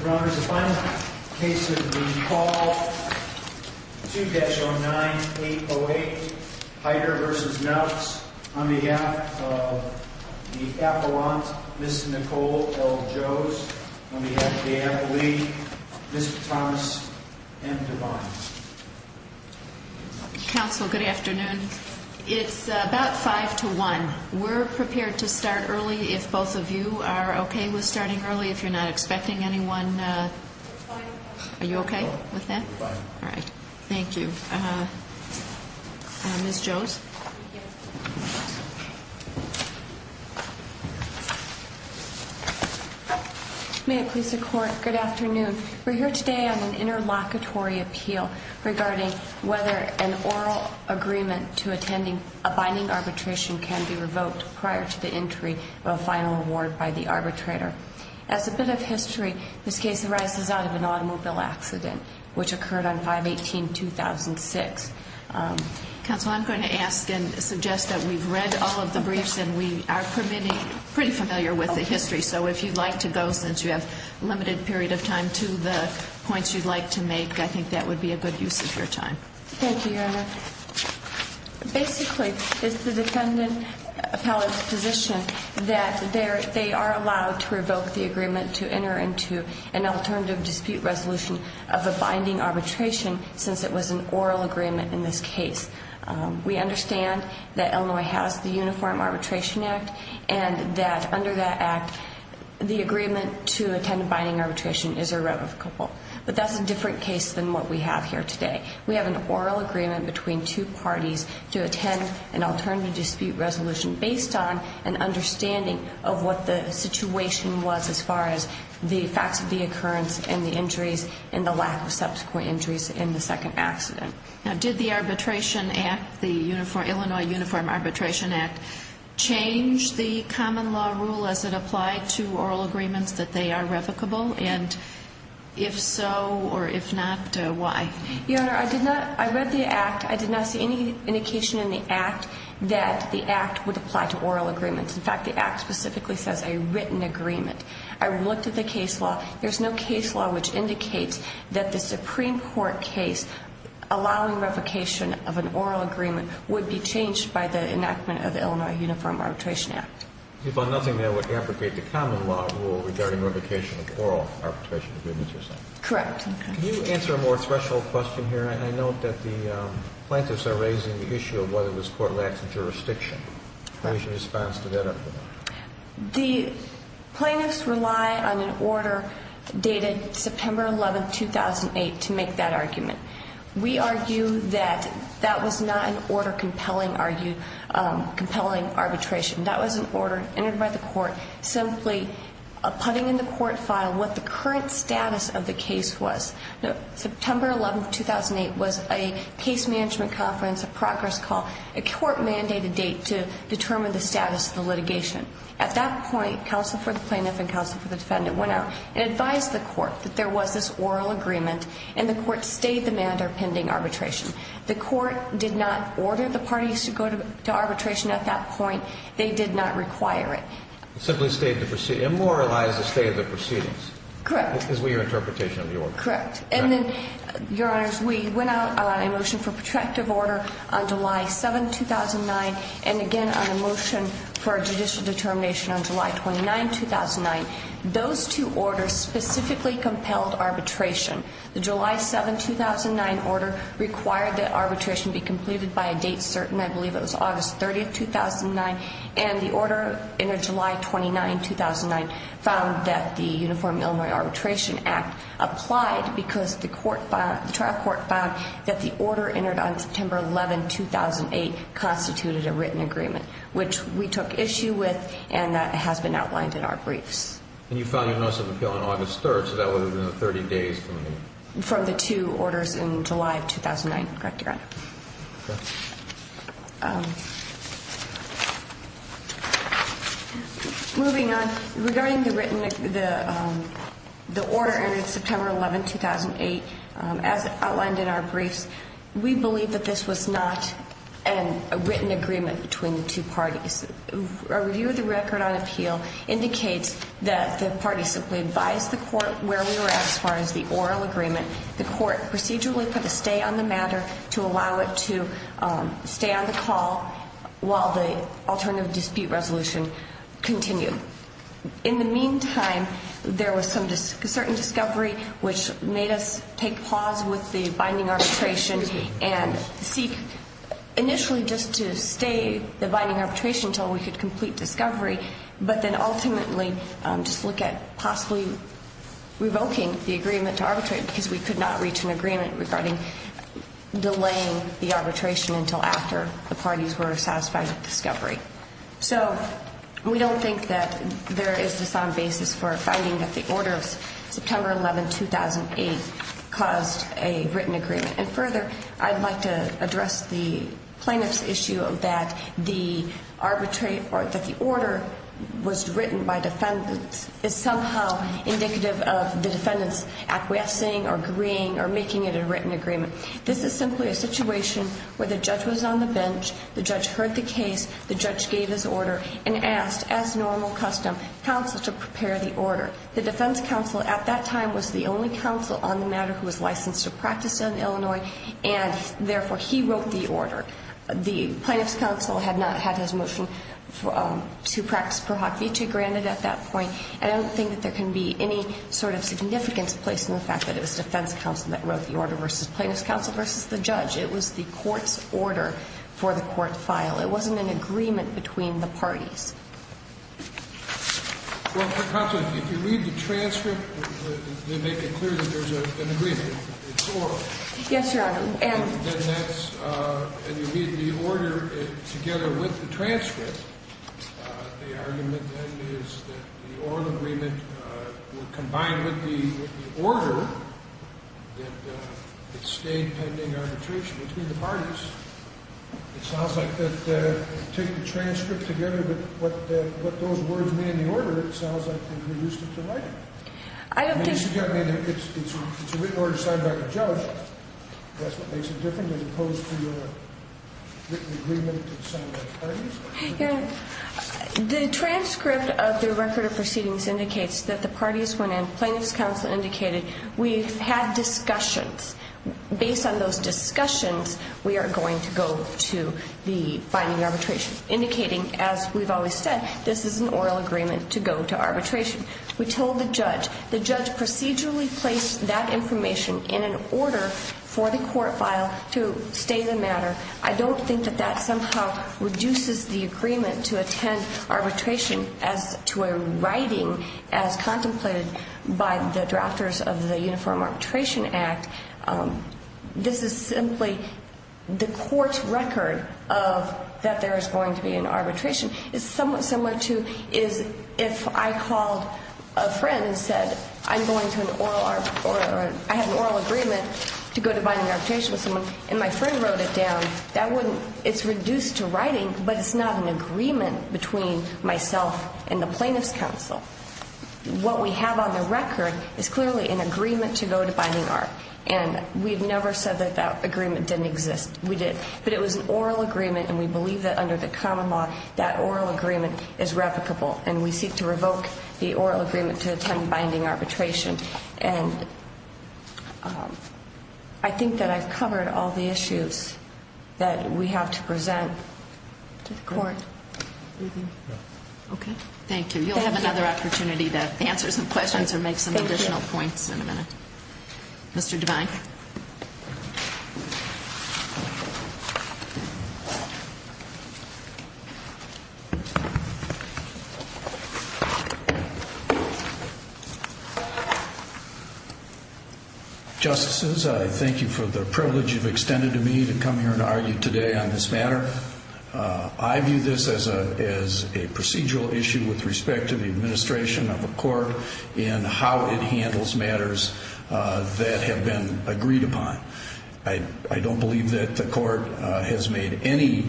Your Honor, the final case of the call, 2-09-808, Heider v. Knautz, on behalf of the appellant, Ms. Nicole L. Joes, on behalf of the appellate, Mr. Thomas M. Devine. Counsel, good afternoon. It's about 5 to 1. We're prepared to start early if both of you are okay with starting early, if you're not expecting anyone. Are you okay with that? We're fine. All right. Thank you. Ms. Joes? May it please the Court, good afternoon. We're here today on an interlocutory appeal regarding whether an oral agreement to attending a binding arbitration can be revoked prior to the entry of a final award by the arbitrator. As a bit of history, this case arises out of an automobile accident, which occurred on 5-18-2006. Counsel, I'm going to ask and suggest that we've read all of the briefs, and we are pretty familiar with the history. So if you'd like to go, since you have a limited period of time, to the points you'd like to make, I think that would be a good use of your time. Thank you, Your Honor. Basically, it's the defendant appellate's position that they are allowed to revoke the agreement to enter into an alternative dispute resolution of a binding arbitration, since it was an oral agreement in this case. We understand that Illinois has the Uniform Arbitration Act, and that under that act, the agreement to attend a binding arbitration is irrevocable. But that's a different case than what we have here today. We have an oral agreement between two parties to attend an alternative dispute resolution based on an understanding of what the situation was as far as the facts of the occurrence and the injuries and the lack of subsequent injuries in the second accident. Now, did the Arbitration Act, the Illinois Uniform Arbitration Act, change the common law rule as it applied to oral agreements that they are revocable? And if so, or if not, why? Your Honor, I read the act. I did not see any indication in the act that the act would apply to oral agreements. In fact, the act specifically says a written agreement. I looked at the case law. There's no case law which indicates that the Supreme Court case allowing revocation of an oral agreement would be changed by the enactment of the Illinois Uniform Arbitration Act. If I'm not mistaken, that would abrogate the common law rule regarding revocation of oral arbitration agreements or something. Correct. Can you answer a more threshold question here? I note that the plaintiffs are raising the issue of whether this Court lacks a jurisdiction. Right. What is your response to that argument? The plaintiffs rely on an order dated September 11, 2008, to make that argument. We argue that that was not an order compelling arbitration. That was an order entered by the Court simply putting in the Court file what the current status of the case was. September 11, 2008 was a case management conference, a progress call, a Court-mandated date to determine the status of the litigation. At that point, counsel for the plaintiff and counsel for the defendant went out and advised the Court that there was this oral agreement, and the Court stayed the mandate of pending arbitration. The Court did not order the parties to go to arbitration at that point. They did not require it. Simply stayed the proceedings. Immoralized the stay of the proceedings. Correct. That is your interpretation of the order. Correct. And then, Your Honors, we went out on a motion for protractive order on July 7, 2009, and again on a motion for judicial determination on July 29, 2009. Those two orders specifically compelled arbitration. The July 7, 2009 order required that arbitration be completed by a date certain. I believe it was August 30, 2009, and the order entered July 29, 2009, found that the Uniform Illinois Arbitration Act applied because the trial court found that the order entered on September 11, 2008, constituted a written agreement, which we took issue with, and that has been outlined in our briefs. And you filed your notice of appeal on August 3, so that would have been 30 days from the date. From the two orders in July of 2009. Correct, Your Honor. Moving on, regarding the written, the order entered September 11, 2008, as outlined in our briefs, we believe that this was not a written agreement between the two parties. A review of the record on appeal indicates that the party simply advised the court where we were at as far as the oral agreement. The court procedurally put a stay on the matter to allow it to stay on the call while the alternative dispute resolution continued. In the meantime, there was some certain discovery which made us take pause with the binding arbitration and seek initially just to stay the binding arbitration until we could complete discovery, but then ultimately just look at possibly revoking the agreement to arbitrate because we could not reach an agreement regarding delaying the arbitration until after the parties were satisfied with discovery. So, we don't think that there is a sound basis for finding that the order of September 11, 2008 caused a written agreement. And further, I'd like to address the plaintiff's issue that the order was written by defendants is somehow indicative of the defendants acquiescing or agreeing or making it a written agreement. This is simply a situation where the judge was on the bench, the judge heard the case, the judge gave his order and asked, as normal custom, counsel to prepare the order. The defense counsel at that time was the only counsel on the matter who was licensed to practice in Illinois and, therefore, he wrote the order. The plaintiff's counsel had not had his motion to practice per hoc vitae granted at that point. And I don't think that there can be any sort of significance placed in the fact that it was defense counsel that wrote the order versus plaintiff's counsel versus the judge. It was the court's order for the court to file. It wasn't an agreement between the parties. Well, counsel, if you read the transcript, you make it clear that there's an agreement. It's oral. Yes, Your Honor. And you read the order together with the transcript. The argument then is that the oral agreement would combine with the order that it stayed pending arbitration between the parties. It sounds like if you take the transcript together with what those words mean in the order, it sounds like they've reduced it to writing. I don't think so. I mean, it's a written order signed by the judge. That's what makes it different as opposed to a written agreement signed by the parties. Your Honor, the transcript of the record of proceedings indicates that the parties went in. Plaintiff's counsel indicated we've had discussions. Based on those discussions, we are going to go to the binding arbitration, indicating, as we've always said, this is an oral agreement to go to arbitration. We told the judge. The judge procedurally placed that information in an order for the court file to stay the matter. I don't think that that somehow reduces the agreement to attend arbitration as to a writing as contemplated by the drafters of the Uniform Arbitration Act. This is simply the court's record of that there is going to be an arbitration. It's somewhat similar to is if I called a friend and said I'm going to an oral or I have an oral agreement to go to binding arbitration with someone and my friend wrote it down. That wouldn't, it's reduced to writing, but it's not an agreement between myself and the plaintiff's counsel. What we have on the record is clearly an agreement to go to binding art, and we've never said that that agreement didn't exist. We did, but it was an oral agreement, and we believe that under the common law that oral agreement is replicable, and we seek to revoke the oral agreement to attend binding arbitration. And I think that I've covered all the issues that we have to present to the court. Okay. Thank you. You'll have another opportunity to answer some questions or make some additional points in a minute. Mr. Devine. Justices, I thank you for the privilege you've extended to me to come here and argue today on this matter. I view this as a procedural issue with respect to the administration of a court and how it handles matters that have been agreed upon. I don't believe that the court has made any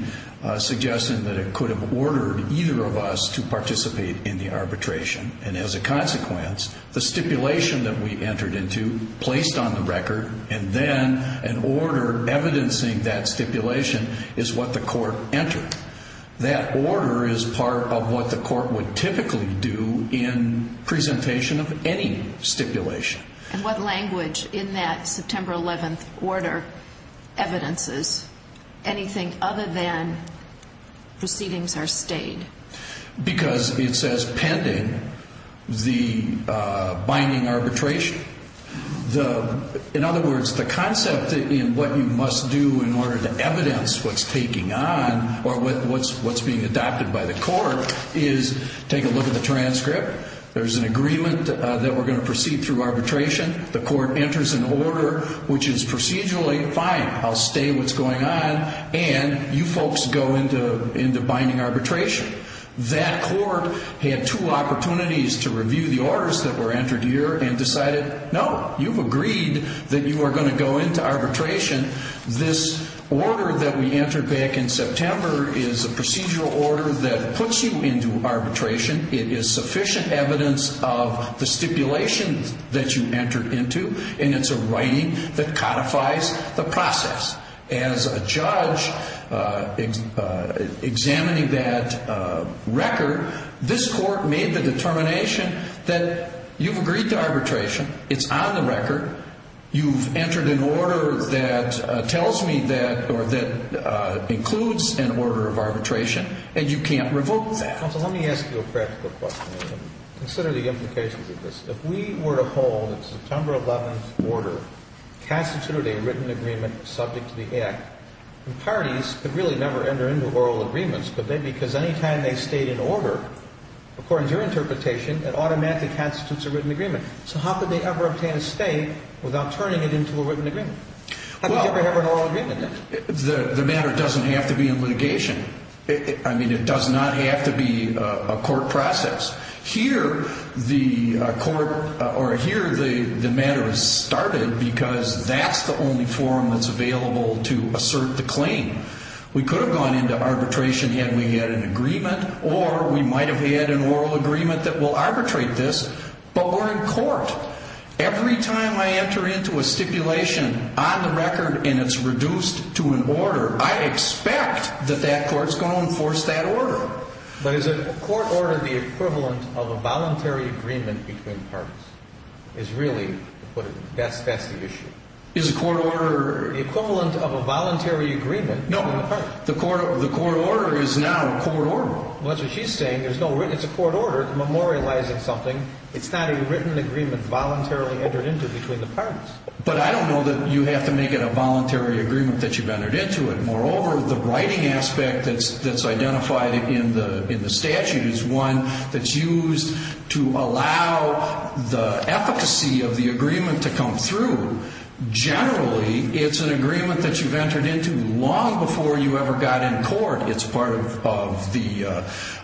suggestion that it could have ordered either of us to participate in the arbitration. And as a consequence, the stipulation that we entered into, placed on the record, and then an order evidencing that stipulation is what the court entered. That order is part of what the court would typically do in presentation of any stipulation. And what language in that September 11th order evidences anything other than proceedings are stayed? Because it says pending the binding arbitration. In other words, the concept in what you must do in order to evidence what's taking on or what's being adopted by the court is take a look at the transcript. There's an agreement that we're going to proceed through arbitration. The court enters an order which is procedurally fine. I'll stay what's going on. And you folks go into binding arbitration. That court had two opportunities to review the orders that were entered here and decided, no, you've agreed that you are going to go into arbitration. This order that we entered back in September is a procedural order that puts you into arbitration. It is sufficient evidence of the stipulation that you entered into. And it's a writing that codifies the process. As a judge examining that record, this court made the determination that you've agreed to arbitration. It's on the record. You've entered an order that tells me that or that includes an order of arbitration, and you can't revoke that. Counsel, let me ask you a practical question. Consider the implications of this. If we were to hold a September 11th order, constitute a written agreement subject to the act, parties could really never enter into oral agreements, could they? Because any time they state an order, according to your interpretation, it automatically constitutes a written agreement. So how could they ever obtain a state without turning it into a written agreement? How could you ever have an oral agreement? The matter doesn't have to be in litigation. I mean, it does not have to be a court process. Here, the matter is started because that's the only forum that's available to assert the claim. We could have gone into arbitration had we had an agreement, or we might have had an oral agreement that will arbitrate this, but we're in court. Every time I enter into a stipulation on the record and it's reduced to an order, I expect that that court's going to enforce that order. But is a court order the equivalent of a voluntary agreement between parties? That's the issue. Is a court order... The equivalent of a voluntary agreement between the parties. No, the court order is not a court order. Well, that's what she's saying. It's a court order memorializing something. It's not a written agreement voluntarily entered into between the parties. But I don't know that you have to make it a voluntary agreement that you've entered into it. Moreover, the writing aspect that's identified in the statute is one that's used to allow the efficacy of the agreement to come through. Generally, it's an agreement that you've entered into long before you ever got in court. It's part of the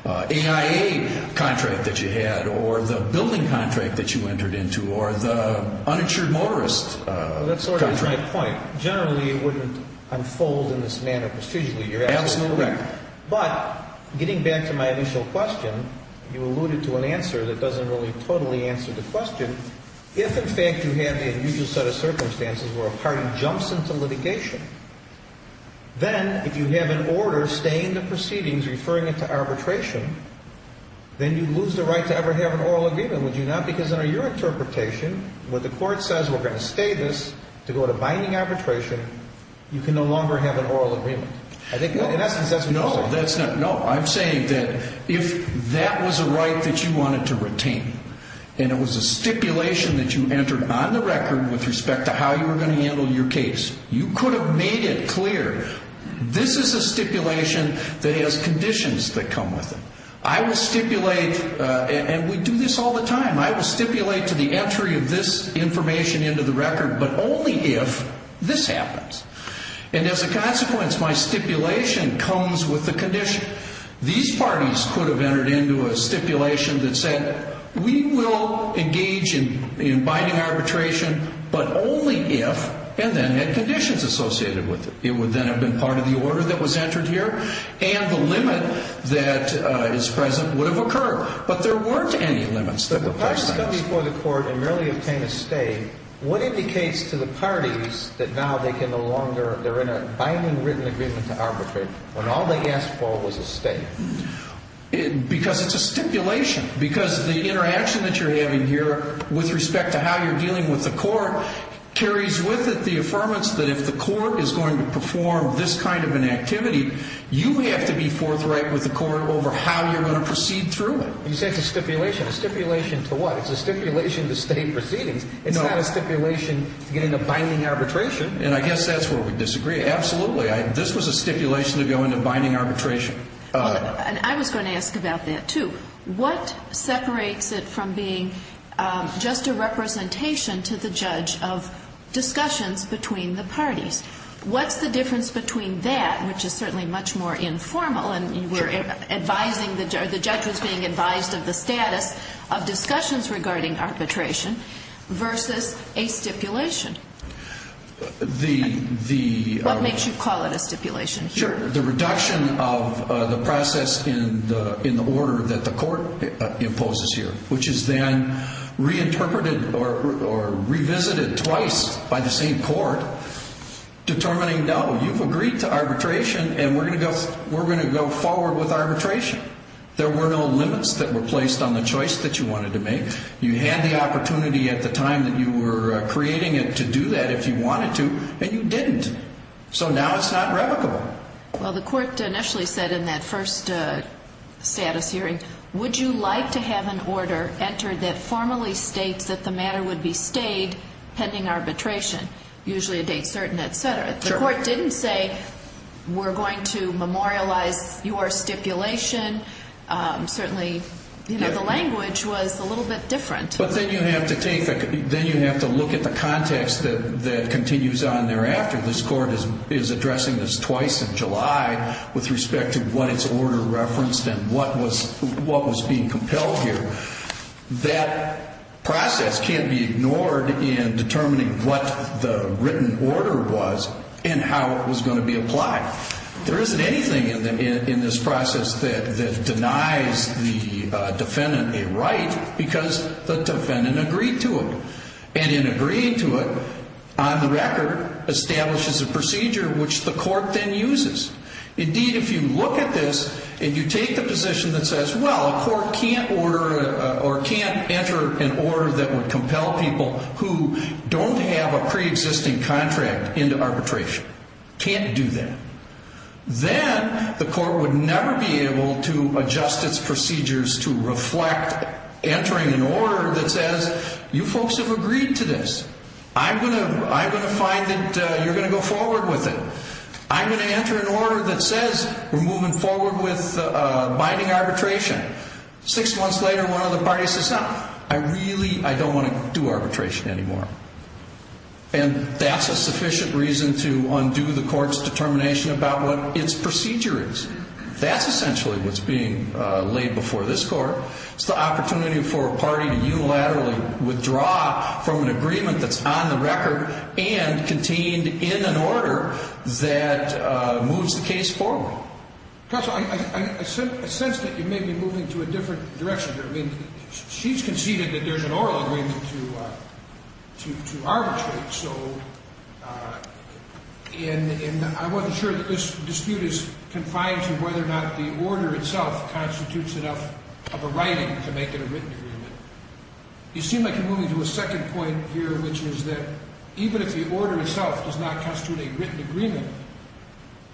AIA contract that you had, or the building contract that you entered into, or the uninsured motorist contract. Well, that's sort of my point. Generally, it wouldn't unfold in this manner procedurally. You're absolutely correct. But getting back to my initial question, you alluded to an answer that doesn't really totally answer the question. If, in fact, you have the unusual set of circumstances where a party jumps into litigation, then if you have an order staying the proceedings, referring it to arbitration, then you lose the right to ever have an oral agreement, would you not? No, because under your interpretation, what the court says, we're going to stay this to go to binding arbitration, you can no longer have an oral agreement. In essence, that's what you're saying. No, I'm saying that if that was a right that you wanted to retain and it was a stipulation that you entered on the record with respect to how you were going to handle your case, you could have made it clear, this is a stipulation that has conditions that come with it. I will stipulate, and we do this all the time, I will stipulate to the entry of this information into the record, but only if this happens. And as a consequence, my stipulation comes with the condition. These parties could have entered into a stipulation that said, we will engage in binding arbitration, but only if, and then had conditions associated with it. It would then have been part of the order that was entered here. And the limit that is present would have occurred. But there weren't any limits. If the parties come before the court and merely obtain a stay, what indicates to the parties that now they can no longer, they're in a binding written agreement to arbitrate when all they asked for was a stay? Because it's a stipulation. Because the interaction that you're having here with respect to how you're dealing with the court carries with it the affirmance that if the court is going to perform this kind of an activity, you have to be forthright with the court over how you're going to proceed through it. You said it's a stipulation. A stipulation to what? It's a stipulation to stay proceedings. No. It's not a stipulation to get into binding arbitration. And I guess that's where we disagree. Absolutely. This was a stipulation to go into binding arbitration. And I was going to ask about that, too. What separates it from being just a representation to the judge of discussions between the parties? What's the difference between that, which is certainly much more informal, and the judge was being advised of the status of discussions regarding arbitration, versus a stipulation? What makes you call it a stipulation? Sure. The reduction of the process in the order that the court imposes here, which is then reinterpreted or revisited twice by the same court, determining, no, you've agreed to arbitration, and we're going to go forward with arbitration. There were no limits that were placed on the choice that you wanted to make. You had the opportunity at the time that you were creating it to do that if you wanted to, and you didn't. So now it's not revocable. Well, the court initially said in that first status hearing, would you like to have an order entered that formally states that the matter would be stayed pending arbitration, usually a date certain, et cetera. The court didn't say we're going to memorialize your stipulation. Certainly the language was a little bit different. But then you have to look at the context that continues on thereafter. This court is addressing this twice in July with respect to what its order referenced and what was being compelled here. That process can't be ignored in determining what the written order was and how it was going to be applied. There isn't anything in this process that denies the defendant a right because the defendant agreed to it. And in agreeing to it, on the record, establishes a procedure which the court then uses. Indeed, if you look at this and you take the position that says, well, a court can't enter an order that would compel people who don't have a preexisting contract into arbitration. Can't do that. Then the court would never be able to adjust its procedures to reflect entering an order that says, you folks have agreed to this. I'm going to find that you're going to go forward with it. I'm going to enter an order that says we're moving forward with binding arbitration. Six months later, one of the parties says, no, I really don't want to do arbitration anymore. And that's a sufficient reason to undo the court's determination about what its procedure is. That's essentially what's being laid before this court. It's the opportunity for a party to unilaterally withdraw from an agreement that's on the record and contained in an order that moves the case forward. Counsel, I sense that you may be moving to a different direction here. I mean, she's conceded that there's an oral agreement to arbitrate. I wasn't sure that this dispute is confined to whether or not the order itself constitutes enough of a writing to make it a written agreement. You seem like you're moving to a second point here, which is that even if the order itself does not constitute a written agreement,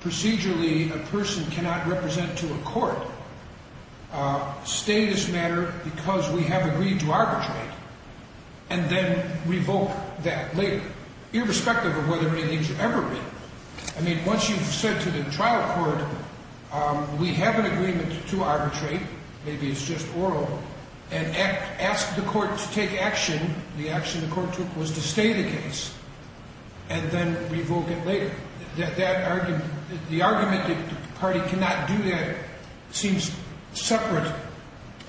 procedurally a person cannot represent to a court a status matter because we have agreed to arbitrate and then revoke that later, irrespective of whether or not it needs to ever be. I mean, once you've said to the trial court, we have an agreement to arbitrate, maybe it's just oral, and asked the court to take action, the action the court took was to stay the case and then revoke it later. The argument that the party cannot do that seems separate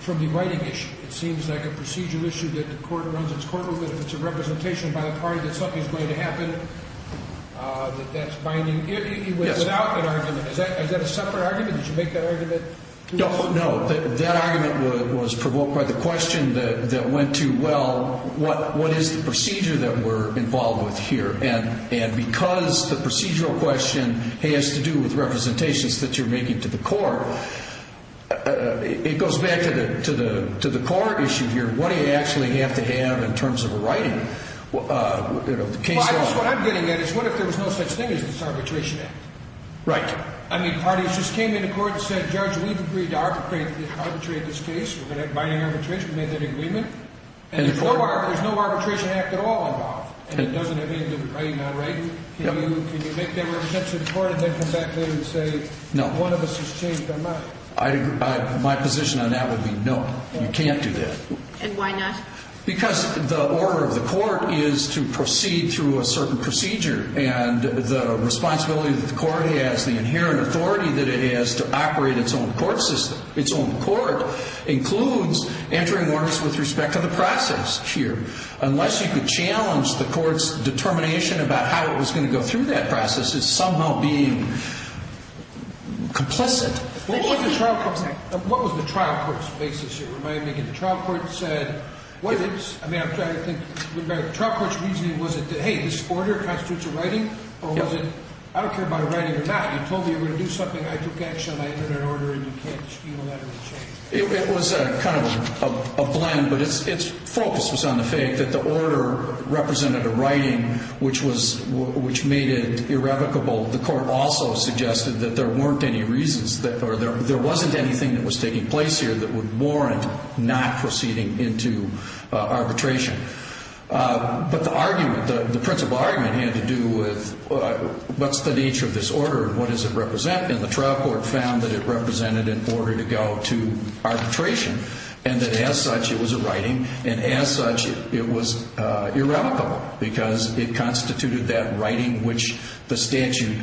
from the writing issue. It seems like a procedural issue that the court runs its court over. If it's a representation by the party that something's going to happen, that that's binding. It went without an argument. Is that a separate argument? Did you make that argument? No, that argument was provoked by the question that went to, well, what is the procedure that we're involved with here? And because the procedural question has to do with representations that you're making to the court, it goes back to the court issue here. What do you actually have to have in terms of a writing? Well, I guess what I'm getting at is what if there was no such thing as this arbitration act? Right. I mean, parties just came into court and said, Judge, we've agreed to arbitrate this case. We're going to have binding arbitration. We made that agreement. And there's no arbitration act at all involved. And it doesn't have anything to do with writing or writing. Can you make that representation to the court and then come back later and say, One of us has changed their mind. My position on that would be no. You can't do that. And why not? Because the order of the court is to proceed through a certain procedure. And the responsibility that the court has, the inherent authority that it has to operate its own court system, its own court includes entering orders with respect to the process here. Unless you could challenge the court's determination about how it was going to go through that process, this is somehow being complicit. What was the trial court's basis here? Remind me again. The trial court said, what is it? I mean, I'm trying to think. The trial court's reasoning was it that, hey, this order constitutes a writing? Or was it, I don't care about writing or not. You told me you were going to do something. I took action. I entered an order. And you can't steal that or change it. It was kind of a blend. But its focus was on the fact that the order represented a writing which made it irrevocable. The court also suggested that there weren't any reasons, or there wasn't anything that was taking place here that would warrant not proceeding into arbitration. But the argument, the principal argument, had to do with what's the nature of this order and what does it represent? And the trial court found that it represented an order to go to arbitration and that as such it was a writing and as such it was irrevocable because it constituted that writing which the statute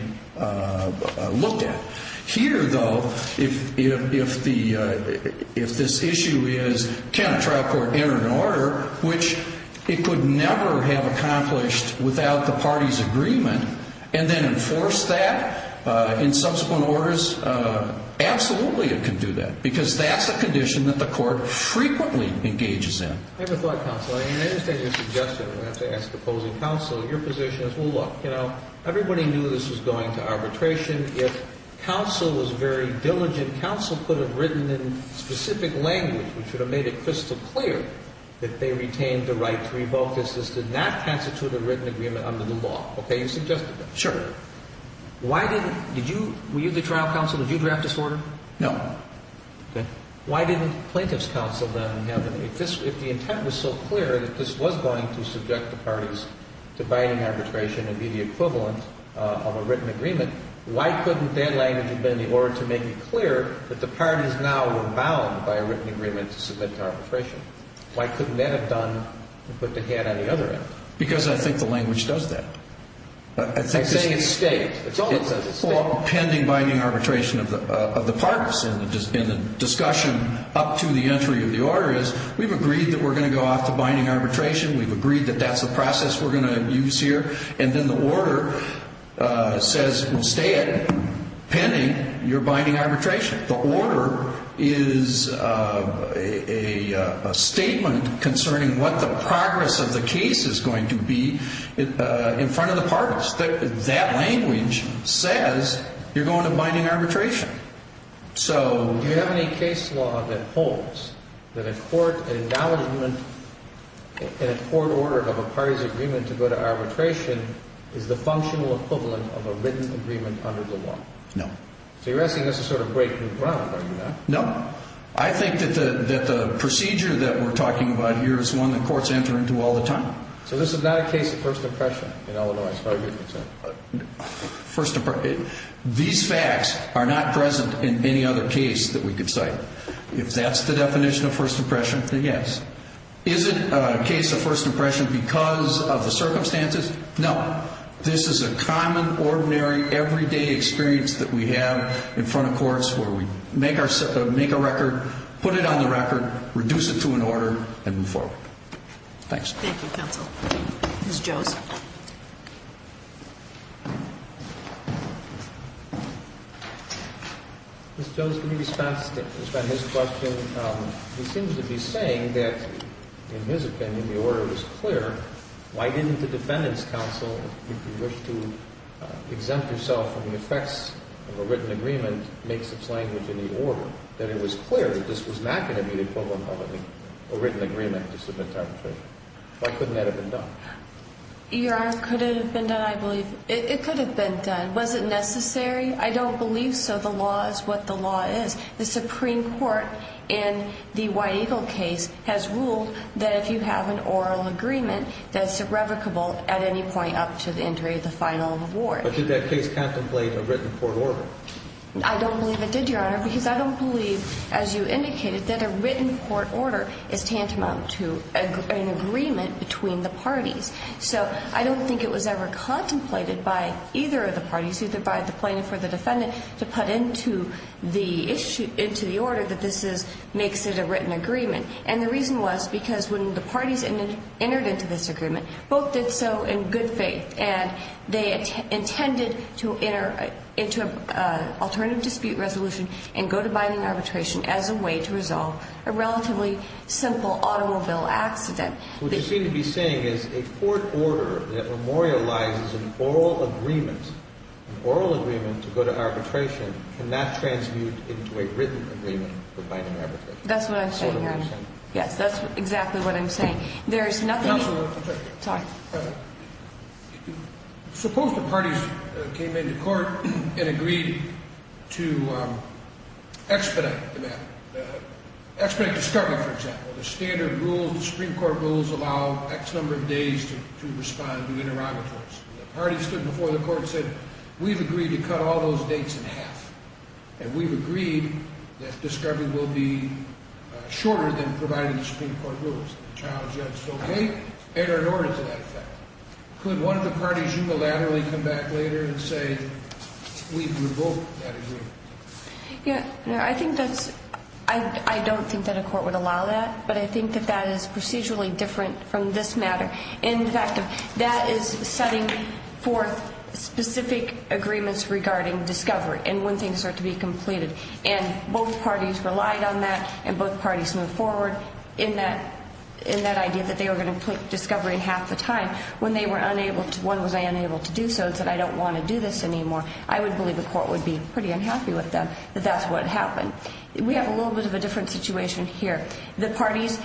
looked at. Here, though, if this issue is, can a trial court enter an order which it could never have accomplished without the party's agreement and then enforce that in subsequent orders, absolutely it can do that because that's a condition that the court frequently engages in. I have a thought, counsel. I understand your suggestion. I'm going to have to ask opposing counsel. Your position is, well, look, everybody knew this was going to arbitration. If counsel was very diligent, counsel could have written in specific language which would have made it crystal clear that they retained the right to revoke this. This did not constitute a written agreement under the law. Okay? You suggested that. Sure. Were you the trial counsel? Did you draft this order? No. Okay. Why didn't plaintiff's counsel then have it? If the intent was so clear that this was going to subject the parties to binding arbitration and be the equivalent of a written agreement, why couldn't their language have been in order to make it clear that the parties now were bound by a written agreement to submit to arbitration? Why couldn't that have done and put the hat on the other end? Because I think the language does that. I think it's state. It's all pending binding arbitration of the parties, and the discussion up to the entry of the order is we've agreed that we're going to go off to binding arbitration, we've agreed that that's the process we're going to use here, and then the order says stay it pending your binding arbitration. The order is a statement concerning what the progress of the case is going to be in front of the parties. That language says you're going to binding arbitration. Do you have any case law that holds that a court acknowledgment in a court order of a party's agreement to go to arbitration is the functional equivalent of a written agreement under the law? No. So you're asking this to sort of break new ground, are you not? No. I think that the procedure that we're talking about here is one that courts enter into all the time. So this is not a case of first impression in Illinois. First impression. These facts are not present in any other case that we could cite. If that's the definition of first impression, then yes. Is it a case of first impression because of the circumstances? No. This is a common, ordinary, everyday experience that we have in front of courts where we make a record, put it on the record, reduce it to an order, and move forward. Thanks. Thank you, counsel. Ms. Joseph. Ms. Joseph, in response to his question, he seems to be saying that, in his opinion, the order was clear. Why didn't the defendants' counsel, if you wish to exempt yourself from the effects of a written agreement, make such language in the order, that it was clear that this was not going to be the equivalent of a written agreement to submit to arbitration? Why couldn't that have been done? Your Honor, could it have been done? I believe it could have been done. Was it necessary? I don't believe so. The law is what the law is. The Supreme Court in the White Eagle case has ruled that if you have an oral agreement, that it's irrevocable at any point up to the entry of the final award. But did that case contemplate a written court order? I don't believe it did, Your Honor. Because I don't believe, as you indicated, that a written court order is tantamount to an agreement between the parties. So I don't think it was ever contemplated by either of the parties, either by the plaintiff or the defendant, to put into the issue, into the order, that this makes it a written agreement. And the reason was because when the parties entered into this agreement, both did so in good faith, and they intended to enter into an alternative dispute resolution and go to binding arbitration as a way to resolve a relatively simple automobile accident. What you seem to be saying is a court order that memorializes an oral agreement, an oral agreement to go to arbitration, cannot transmute into a written agreement for binding arbitration. That's what I'm saying, Your Honor. Yes, that's exactly what I'm saying. Suppose the parties came into court and agreed to expedite the matter, expedite discovery, for example. The standard rules, the Supreme Court rules, allow X number of days to respond to interrogatories. The parties stood before the court and said, we've agreed to cut all those dates in half, and we've agreed that discovery will be shorter than provided in the Supreme Court rules. The trial judge said, okay, enter into that effect. Could one of the parties unilaterally come back later and say, we've revoked that agreement? Yeah. No, I think that's, I don't think that a court would allow that, but I think that that is procedurally different from this matter. In fact, that is setting forth specific agreements regarding discovery and when things are to be completed. And both parties relied on that, and both parties moved forward in that idea that they were going to put discovery in half the time. When they were unable to, when was I unable to do so, and said, I don't want to do this anymore. I would believe the court would be pretty unhappy with them that that's what happened. We have a little bit of a different situation here. The parties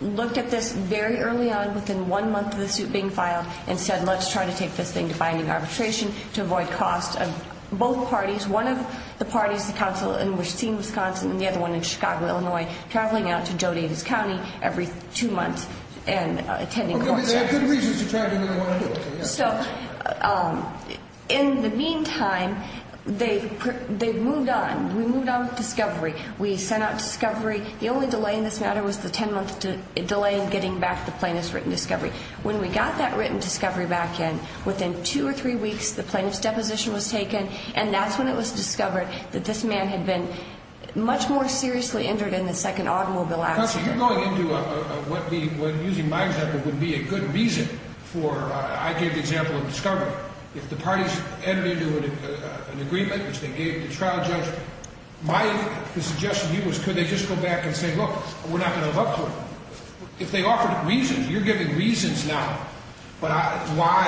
looked at this very early on within one month of the suit being filed and said, let's try to take this thing to binding arbitration to avoid cost of both parties. And there was one of the parties, the council, and we're seeing Wisconsin and the other one in Chicago, Illinois, traveling out to Jodi and his county every two months and attending court sessions. But they have good reasons to travel to Illinois and do it. So in the meantime, they've moved on. We moved on with discovery. We sent out discovery. The only delay in this matter was the ten-month delay in getting back the plaintiff's written discovery. When we got that written discovery back in, within two or three weeks, the man had been much more seriously injured in the second automobile accident. Counsel, you're going into what, using my example, would be a good reason for, I gave the example of discovery. If the parties entered into an agreement, which they gave the trial judge, my suggestion to you was could they just go back and say, look, we're not going to look for him. If they offered reasons, you're giving reasons now. But why,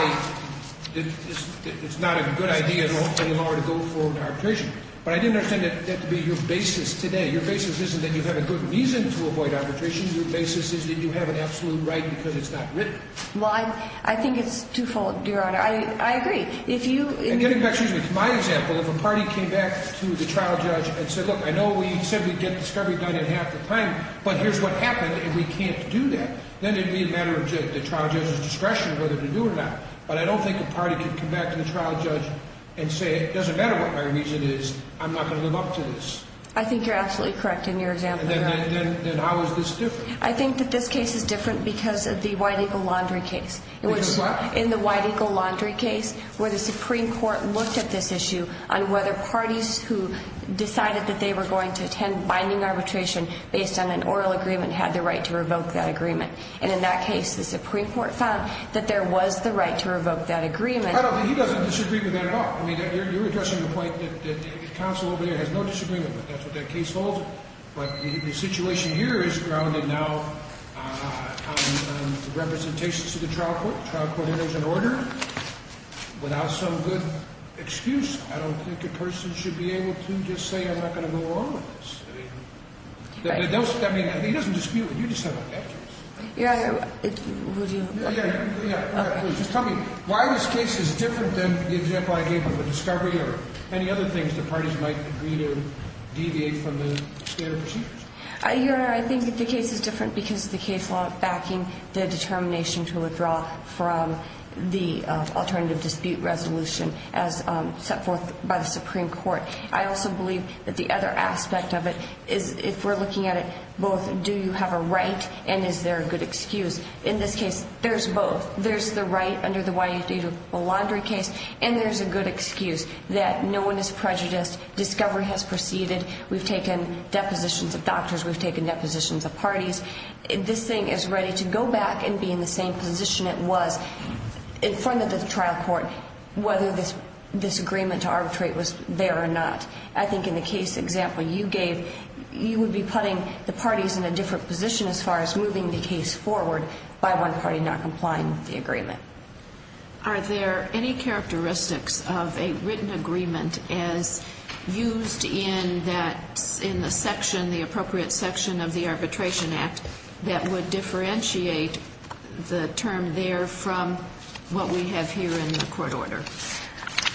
it's not a good idea in Illinois to go for arbitration. But I didn't understand that to be your basis today. Your basis isn't that you have a good reason to avoid arbitration. Your basis is that you have an absolute right because it's not written. Well, I think it's twofold, Your Honor. I agree. If you — Getting back, excuse me, to my example, if a party came back to the trial judge and said, look, I know we said we'd get discovery done in half the time, but here's what happened and we can't do that, then it would be a matter of the trial judge's discretion whether to do it or not. But I don't think a party could come back to the trial judge and say, it doesn't matter what my reason is, I'm not going to live up to this. I think you're absolutely correct in your example, Your Honor. Then how is this different? I think that this case is different because of the White Eagle Laundry case. Because of what? In the White Eagle Laundry case, where the Supreme Court looked at this issue on whether parties who decided that they were going to attend binding arbitration based on an oral agreement had the right to revoke that agreement. And in that case, the Supreme Court found that there was the right to revoke that agreement. I don't think he doesn't disagree with that at all. I mean, you're addressing the point that the counsel over there has no disagreement with it. That's what that case holds. But the situation here is grounded now on representations to the trial court. The trial court enters an order without some good excuse. I don't think a person should be able to just say, I'm not going to go along with this. Right. I mean, he doesn't dispute it. Yeah. Would you? Yeah. Just tell me, why is this case different than the example I gave of the discovery or any other things that parties might agree to deviate from the standard procedures? Your Honor, I think the case is different because the case law backing the determination to withdraw from the alternative dispute resolution as set forth by the Supreme Court. I also believe that the other aspect of it is, if we're looking at it both, do you have a right? And is there a good excuse? In this case, there's both. There's the right under the YUD to a laundry case. And there's a good excuse that no one is prejudiced. Discovery has proceeded. We've taken depositions of doctors. We've taken depositions of parties. This thing is ready to go back and be in the same position it was in front of the trial court, whether this agreement to arbitrate was there or not. I think in the case example you gave, you would be putting the parties in a different position as far as moving the case forward by one party not complying with the agreement. Are there any characteristics of a written agreement as used in the section, the appropriate section of the Arbitration Act, that would differentiate the term there from what we have here in the court order?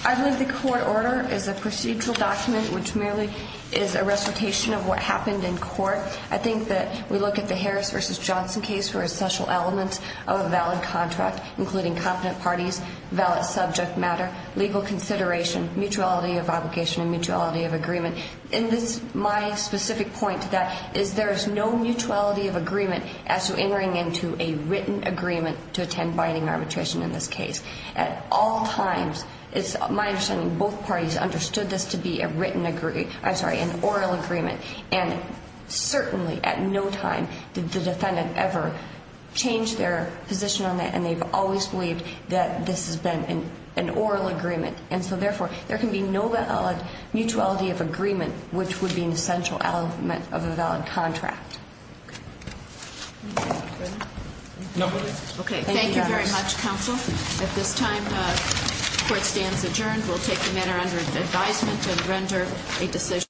I believe the court order is a procedural document which merely is a recitation of what happened in court. I think that we look at the Harris v. Johnson case for essential elements of a valid contract, including competent parties, valid subject matter, legal consideration, mutuality of obligation and mutuality of agreement. And my specific point to that is there is no mutuality of agreement as to entering into a written agreement to attend binding arbitration in this case. At all times, it's my understanding both parties understood this to be a written agreement, I'm sorry, an oral agreement. And certainly at no time did the defendant ever change their position on that and they've always believed that this has been an oral agreement. And so therefore, there can be no valid mutuality of agreement, which would be an essential element of a valid contract. Thank you very much, counsel. At this time, the court stands adjourned. We'll take the matter under advisement and render a decision.